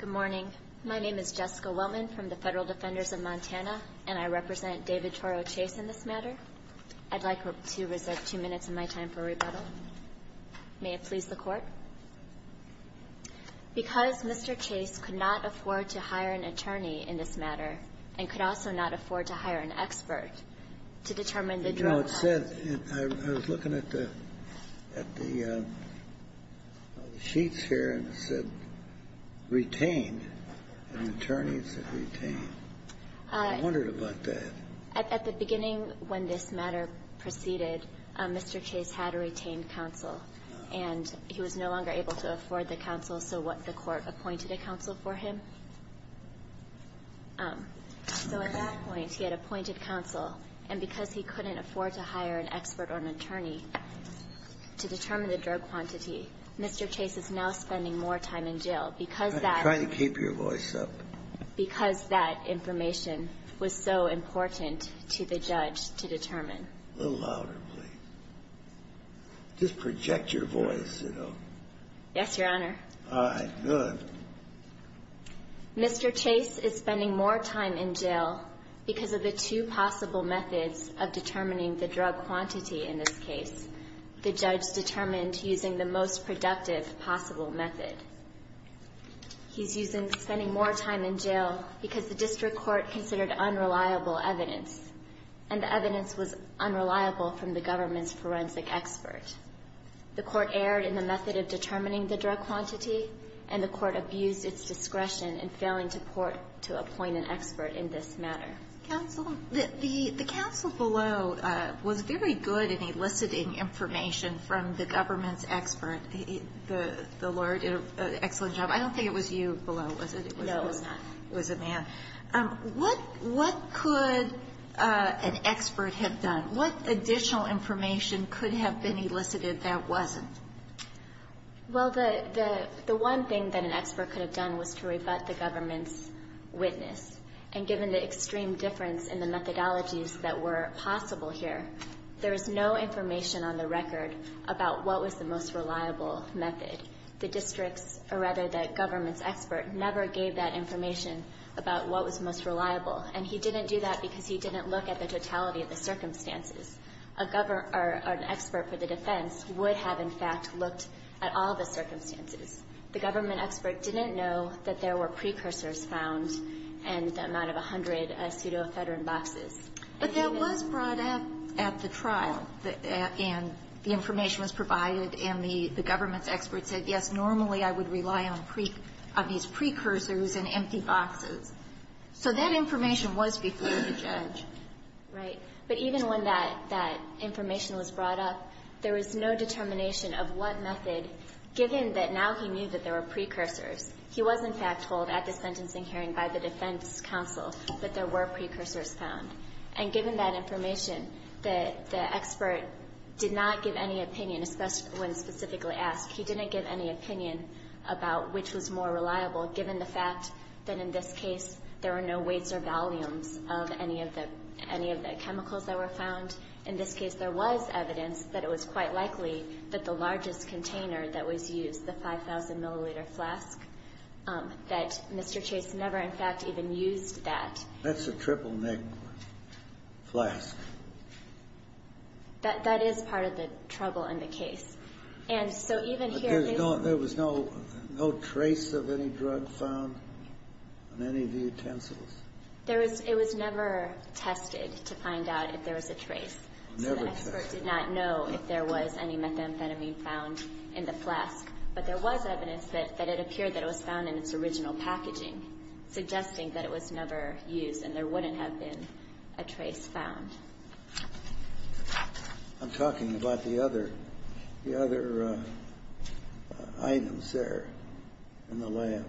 Good morning. My name is Jessica Wellman from the Federal Defenders of Montana, and I represent David Toro Chase in this matter. I'd like to reserve two minutes of my time for rebuttal. May it please the Court? Because Mr. Chase could not afford to hire an attorney in this case to determine the drug cost. You know, it said, I was looking at the sheets here, and it said, retained. An attorney, it said retained. I wondered about that. At the beginning, when this matter proceeded, Mr. Chase had a retained counsel. And he was no longer able to afford the counsel, so the Court appointed a counsel for him. So at that point, he had appointed counsel, and because he couldn't afford to hire an expert or an attorney to determine the drug quantity, Mr. Chase is now spending more time in jail because that I'm trying to keep your voice up. Because that information was so important to the judge to determine. A little louder, please. Just project your voice, you know. Yes, Your Honor. All right. Good. Mr. Chase is spending more time in jail because of the two possible methods of determining the drug quantity in this case. The judge determined using the most productive possible method. He's using the spending more time in jail because the district court considered unreliable evidence, and the evidence was unreliable from the government's forensic expert. The Court erred in the method of determining the drug quantity, and the Court abused its discretion in failing to court to appoint an expert in this matter. Counsel, the counsel below was very good in eliciting information from the government's expert. The lawyer did an excellent job. I don't think it was you below, was it? No, it was not. It was a man. What could an expert have done? What additional information could have been elicited that wasn't? Well, the one thing that an expert could have done was to rebut the government's witness. And given the extreme difference in the methodologies that were possible here, there is no information on the record about what was the most reliable method. The district's, or rather, the government's expert never gave that information about what was most reliable. And he didn't do that because he didn't look at the totality of the circumstances. A government or an expert for the defense would have, in fact, looked at all the circumstances. The government expert didn't know that there were precursors found in the amount of 100 pseudoephedrine boxes. But that was brought up at the trial, and the information was provided, and the government's expert said, yes, normally I would rely on these precursors and empty boxes. So that information was before the judge. Right. But even when that information was brought up, there was no determination of what method, given that now he knew that there were precursors. He was, in fact, told at the sentencing hearing by the defense counsel that there were precursors found. And given that information, the expert did not give any opinion, when specifically asked. He didn't give any opinion about which was more reliable, given the fact that in this case, there were no weights or volumes of any of the chemicals that were found. In this case, there was evidence that it was quite likely that the largest container that was used, the 5,000-milliliter flask, that Mr. Chase never, in fact, even used that. That's a triple-nick flask. That is part of the trouble in the case. And so even here, they don't ---- Any of the utensils? There was ---- It was never tested to find out if there was a trace. Never tested. So the expert did not know if there was any methamphetamine found in the flask. But there was evidence that it appeared that it was found in its original packaging, suggesting that it was never used and there wouldn't have been a trace found. I'm talking about the other items there in the lab.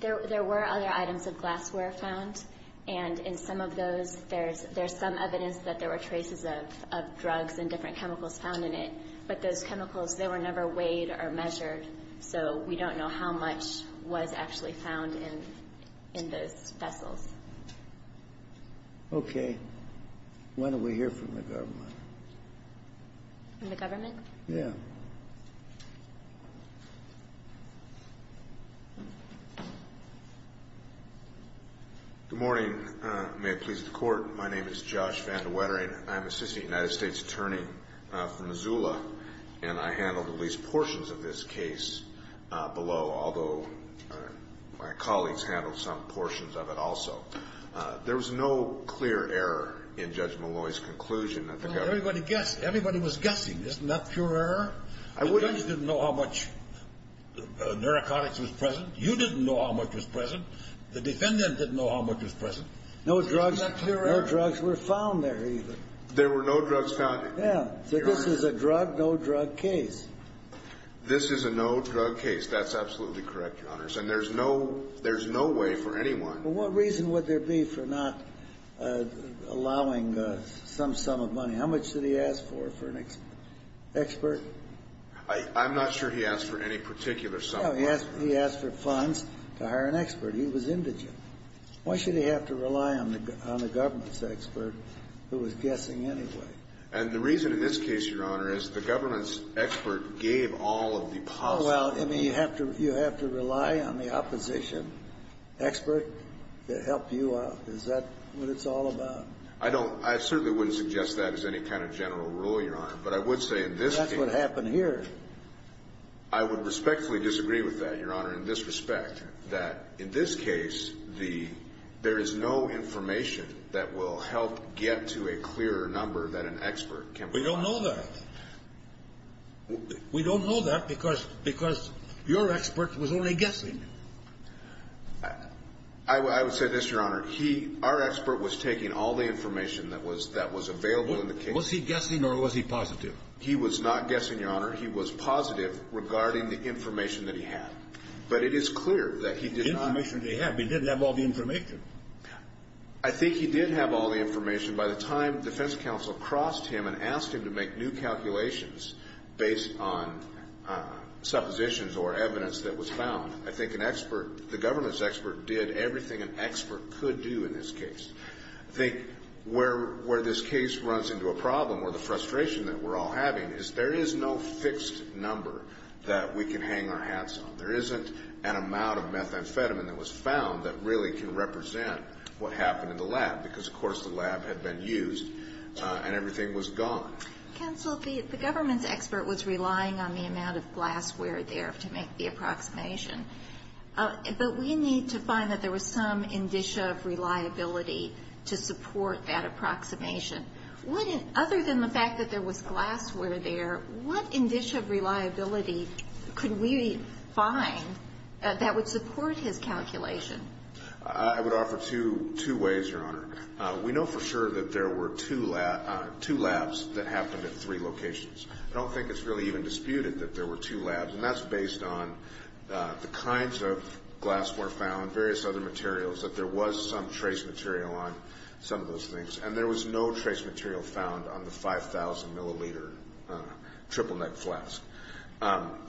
There were other items of glassware found, and in some of those, there's some evidence that there were traces of drugs and different chemicals found in it. But those chemicals, they were never weighed or measured, so we don't know how much was actually found in those vessels. Okay. Why don't we hear from the government? From the government? Yes. Good morning. May it please the Court. My name is Josh Van de Wetering. I'm an assistant United States attorney from Missoula, and I handled at least portions of this case below, although my colleagues handled some portions of it also. There was no clear error in Judge Malloy's conclusion that the government ---- Everybody guessed. Everybody was guessing. Isn't that pure error? I wouldn't ---- The judge didn't know how much narcotics was present. You didn't know how much was present. The defendant didn't know how much was present. Isn't that pure error? No drugs were found there either. There were no drugs found there. Yes. So this is a drug-no-drug case. This is a no-drug case. That's absolutely correct, Your Honors. And there's no way for anyone ---- Well, what reason would there be for not allowing some sum of money? How much did he ask for, for an expert? I'm not sure he asked for any particular sum of money. No, he asked for funds to hire an expert. He was indigent. Why should he have to rely on the government's expert, who was guessing anyway? And the reason in this case, Your Honor, is the government's expert gave all of the possible ---- Oh, well, I mean, you have to rely on the opposition expert to help you out. Is that what it's all about? I don't ---- I certainly wouldn't suggest that as any kind of general rule, Your Honor. But I would say in this case ---- That's what happened here. I would respectfully disagree with that, Your Honor, in this respect, that in this case, the ---- there is no information that will help get to a clearer number that an expert can provide. We don't know that. We don't know that because your expert was only guessing. I would say this, Your Honor. He, our expert, was taking all the information that was available in the case. Was he guessing or was he positive? He was not guessing, Your Honor. He was positive regarding the information that he had. But it is clear that he did not ---- The information that he had, but he didn't have all the information. I think he did have all the information. By the time defense counsel crossed him and asked him to make new calculations based on suppositions or evidence that was found, I think an expert, the government's expert, did everything an expert could do in this case. I think where this case runs into a problem or the frustration that we're all having is there is no fixed number that we can hang our hats on. There isn't an amount of methamphetamine that was found that really can represent what happened in the lab because, of course, the lab had been used and everything was gone. Counsel, the government's expert was relying on the amount of glassware there to make the approximation. But we need to find that there was some indicia of reliability to support that approximation. Other than the fact that there was glassware there, what indicia of reliability could we find that would support his calculation? I would offer two ways, Your Honor. We know for sure that there were two labs that happened at three locations. I don't think it's really even disputed that there were two labs. And that's based on the kinds of glassware found, various other materials, that there was some trace material on some of those things. And there was no trace material found on the 5,000 milliliter triple-neck flask.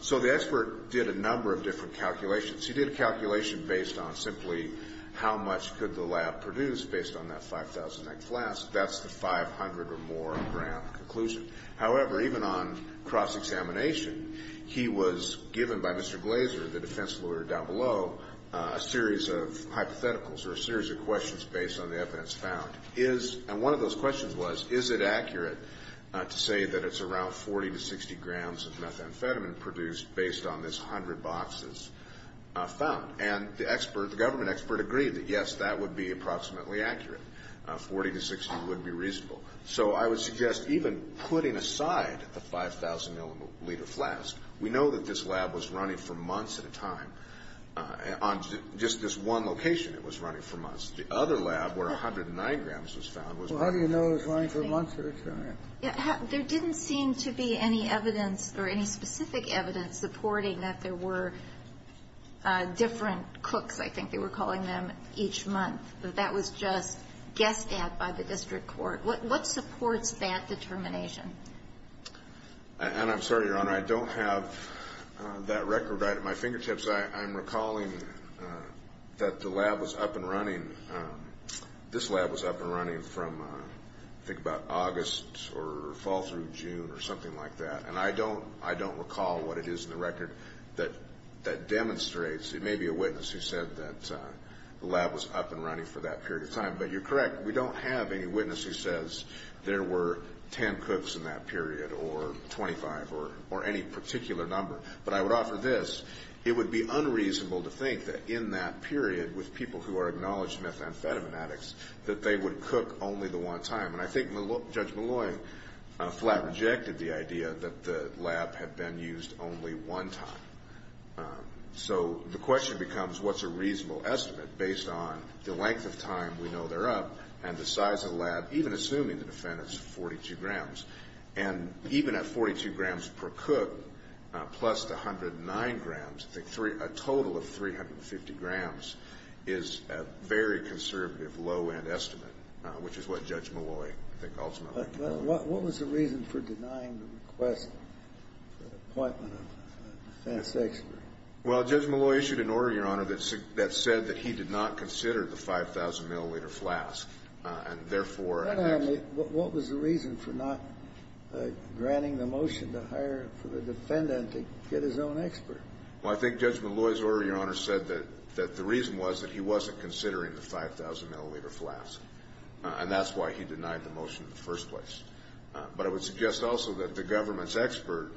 So the expert did a number of different calculations. He did a calculation based on simply how much could the lab produce based on that 5,000-neck flask. That's the 500 or more gram conclusion. However, even on cross-examination, he was given by Mr. Glazer, the defense lawyer down below, a series of hypotheticals or a series of questions based on the evidence found. And one of those questions was, is it accurate to say that it's around 40 to 60 grams of found? And the expert, the government expert, agreed that, yes, that would be approximately accurate. 40 to 60 would be reasonable. So I would suggest even putting aside the 5,000-milliliter flask, we know that this lab was running for months at a time. On just this one location, it was running for months. The other lab, where 109 grams was found, was running for months. Well, how do you know it's running for months or it's not? There didn't seem to be any evidence or any specific evidence supporting that there were different cooks, I think they were calling them, each month. That that was just guessed at by the district court. What supports that determination? And I'm sorry, Your Honor, I don't have that record right at my fingertips. I'm recalling that the lab was up and running. This lab was up and running from, I think, about August or fall through June or something like that. And I don't recall what it is in the record that demonstrates, it may be a witness who said that the lab was up and running for that period of time, but you're correct, we don't have any witness who says there were 10 cooks in that period or 25 or any particular number. But I would offer this, it would be unreasonable to think that in that period, with people who are acknowledged methamphetamine addicts, that they would cook only the one time. And I think Judge Molloy flat rejected the idea that the lab had been used only one time. So the question becomes, what's a reasonable estimate based on the length of time we know they're up and the size of the lab, even assuming the defendant's 42 grams. And even at 42 grams per cook, plus the 109 grams, a total of 350 grams is a very conservative low-end estimate, which is what Judge Molloy, I think, ultimately concluded. What was the reason for denying the request, the appointment of a defense expert? Well, Judge Molloy issued an order, Your Honor, that said that he did not consider the 5,000 milliliter flask, and therefore, and that's the reason. What was the reason for not granting the motion to hire for the defendant to get his own expert? Well, I think Judge Molloy's order, Your Honor, said that the reason was that he wasn't considering the 5,000 milliliter flask, and that's why he denied the motion in the first place. But I would suggest also that the government's expert,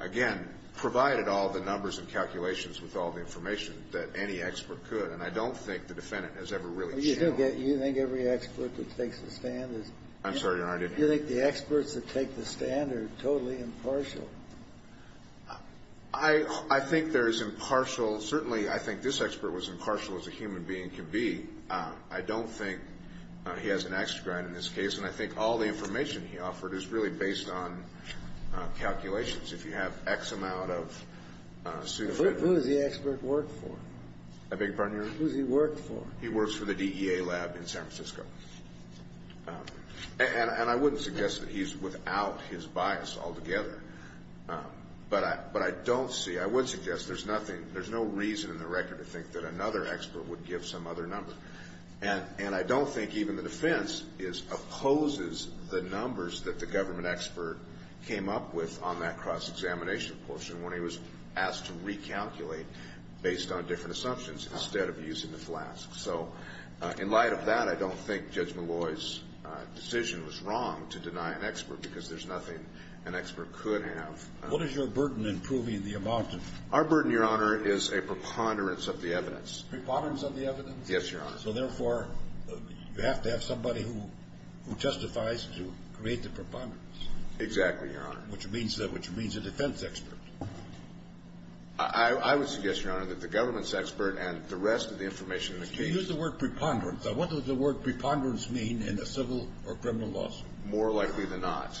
again, provided all the numbers and calculations with all the information that any expert could, and I don't think the defendant has ever really shown that. Well, you think every expert that takes the stand is... I'm sorry, Your Honor, I didn't... You think the experts that take the stand are totally impartial? I think there is impartial, certainly, I think this expert was impartial as a human being can be. I don't think he has an extra grant in this case, and I think all the information he offered is really based on calculations. If you have X amount of... Who does the expert work for? I beg your pardon, Your Honor? Who does he work for? He works for the DEA lab in San Francisco. And I wouldn't suggest that he's without his bias altogether. But I don't see... I would suggest there's nothing, there's no reason in the record to think that another expert would give some other number. And I don't think even the defense opposes the numbers that the government expert came up with on that cross-examination portion when he was asked to recalculate based on different assumptions instead of using the flask. So in light of that, I don't think Judge Malloy's decision was wrong to deny an expert because there's nothing an expert could have. What is your burden in proving the amount of... Our burden, Your Honor, is a preponderance of the evidence. Preponderance of the evidence? Yes, Your Honor. So therefore, you have to have somebody who testifies to create the preponderance. Exactly, Your Honor. Which means a defense expert. I would suggest, Your Honor, that the government's expert and the rest of the information in the case... You used the word preponderance. Now what does the word preponderance mean in a civil or criminal lawsuit? More likely than not.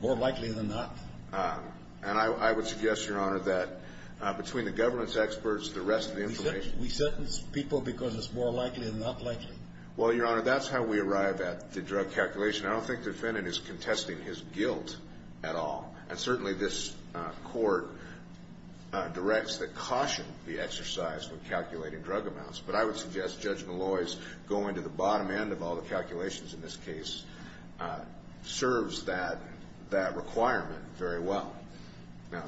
More likely than not? And I would suggest, Your Honor, that between the government's experts, the rest of the information... We sentence people because it's more likely than not likely? Well, Your Honor, that's how we arrive at the drug calculation. I don't think the defendant is contesting his guilt at all. And certainly this Court directs that caution be exercised when calculating drug amounts. But I would suggest Judge Malloy's going to the bottom end of all the calculations in this case serves that requirement very well.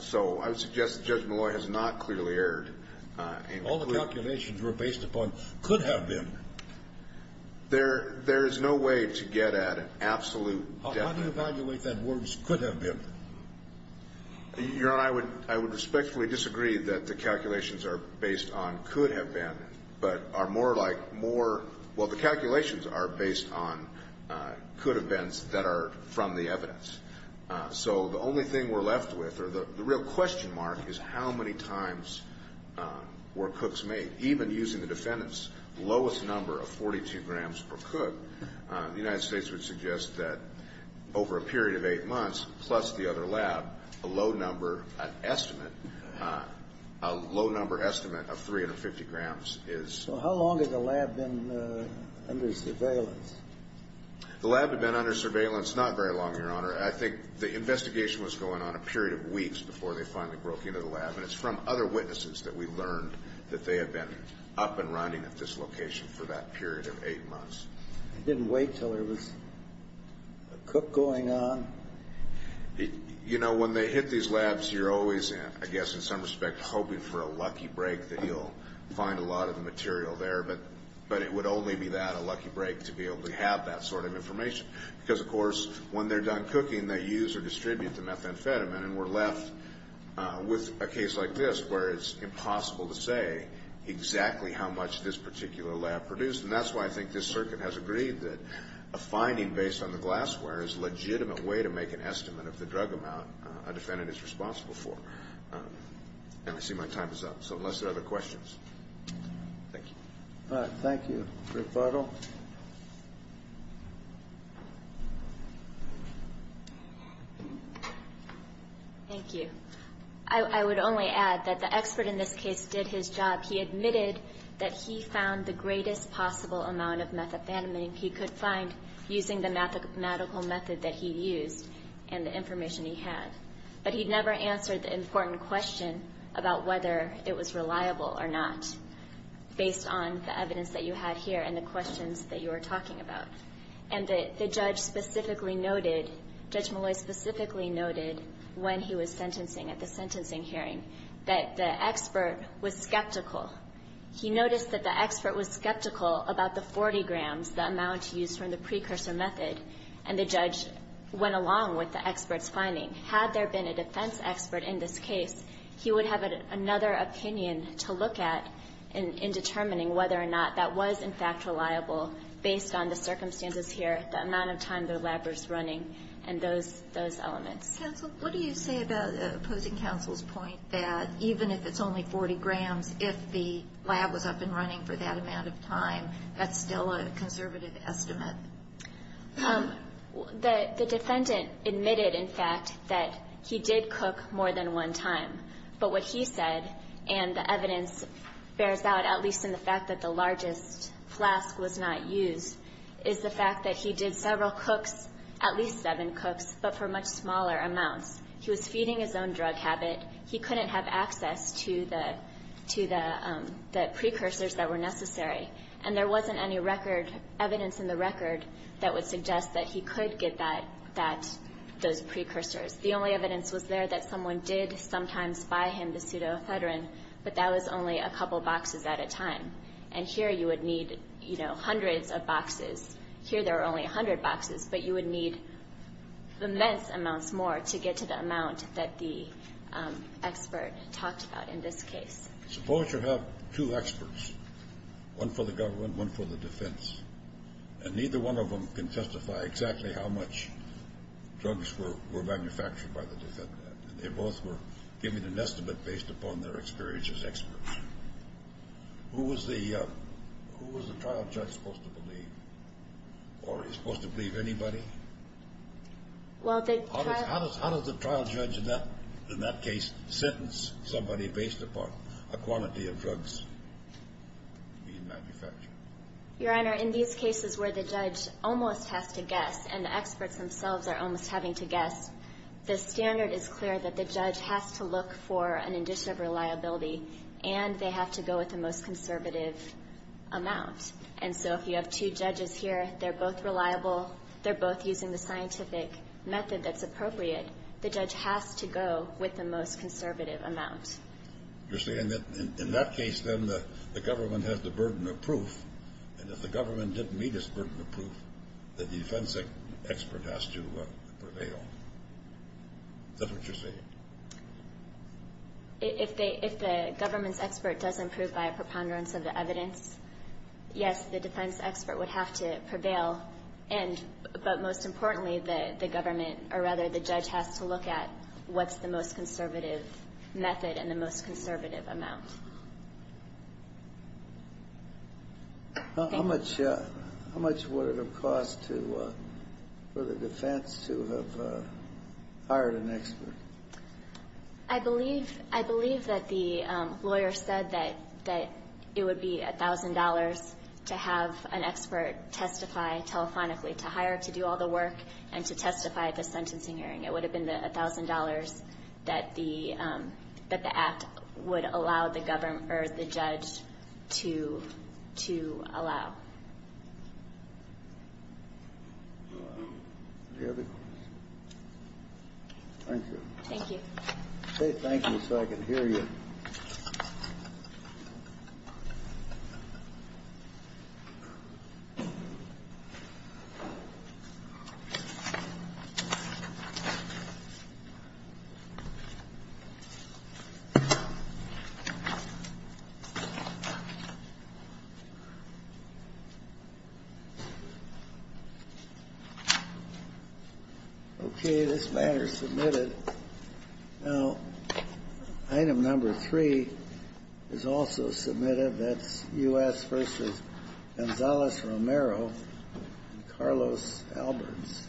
So I would suggest that Judge Malloy has not clearly erred. All the calculations were based upon could have been. There is no way to get at an absolute definite. How do you evaluate that words could have been? Your Honor, I would respectfully disagree that the calculations are based on could have been, but are more like more... Well, the calculations are based on could have beens that are from the evidence. So the only thing we're left with, or the real question mark, is how many times were cooks made? Even using the defendant's lowest number of 42 grams per cook, the United States would suggest that over a period of eight months, plus the other lab, a low number, an estimate, a low number estimate of 350 grams is... So how long had the lab been under surveillance? The lab had been under surveillance not very long, Your Honor. I think the investigation was going on a period of weeks before they finally broke into the lab. And it's from other witnesses that we learned that they had been up and running at this location for that period of eight months. They didn't wait until there was a cook going on? You know, when they hit these labs, you're always, I guess in some respect, hoping for a lucky break that you'll find a lot of the material there. But it would only be that, a lucky break, to be able to have that sort of information. Because, of course, when they're done cooking, they use or distribute the methamphetamine. And we're left with a case like this where it's impossible to say exactly how much this particular lab produced. And that's why I think this circuit has agreed that a finding based on the glassware is a legitimate way to make an estimate of the drug amount a defendant is responsible for. And I see my time is up. So unless there are other questions. Thank you. All right. Thank you. Rebuttal. Thank you. I would only add that the expert in this case did his job. He admitted that he found the greatest possible amount of methamphetamine he could find using the medical method that he used and the information he had. But he never answered the important question about whether it was reliable or not, based on the evidence that you had here and the questions that you were talking about. And the judge specifically noted, Judge Malloy specifically noted, when he was sentencing, at the sentencing hearing, that the expert was skeptical. He noticed that the expert was skeptical about the 40 grams, the amount used from the precursor method, and the judge went along with the expert's finding. Had there been a defense expert in this case, he would have another opinion to look at in determining whether or not that was, in fact, reliable based on the circumstances here, the amount of time the lab was running, and those elements. Counsel, what do you say about opposing counsel's point that even if it's only 40 grams, if the lab was up and running for that amount of time, that's still a conservative estimate? The defendant admitted, in fact, that he did cook more than one time. But what he said, and the evidence bears out, at least in the fact that the largest flask was not used, is the fact that he did several cooks, at least seven cooks, but for much smaller amounts. He was feeding his own drug habit. He couldn't have access to the precursors that were necessary. And there wasn't any record, evidence in the record, that would suggest that he could get that, those precursors. The only evidence was there that someone did sometimes buy him the pseudoephedrine, but that was only a couple boxes at a time. And here you would need, you know, immense amounts more to get to the amount that the expert talked about in this case. Suppose you have two experts, one for the government, one for the defense, and neither one of them can testify exactly how much drugs were manufactured by the defendant. And they both were giving an estimate based upon their experience as experts. Who was the trial judge supposed to believe? Or are you supposed to believe anybody? How does the trial judge in that case sentence somebody based upon a quantity of drugs being manufactured? Your Honor, in these cases where the judge almost has to guess, and the experts themselves are almost having to guess, the standard is clear that the judge has to look for an indication of reliability, and they have to go with the most conservative amount. And so if you have two judges here, they're both reliable, they're both using the scientific method that's appropriate, the judge has to go with the most conservative amount. You're saying that in that case, then, the government has the burden of proof, and if the government didn't meet its burden of proof, the defense expert has to prevail. Is that what you're saying? If the government's expert doesn't prove by a preponderance of the evidence, yes, the defense expert would have to prevail, but most importantly, the government or, rather, the judge has to look at what's the most conservative method and the most conservative amount. Thank you. How much would it have cost for the defense to have hired an expert? I believe that the lawyer said that it would be $1,000 to have an expert testify telephonically, to hire, to do all the work, and to testify at the sentencing hearing. So it would be $1,000 that the act would allow the government or the judge to allow. Thank you. Thank you. Thank you. Okay, this matter is submitted. Now, item number three is also submitted. That's U.S. v. Gonzales Romero and Carlos Alberts.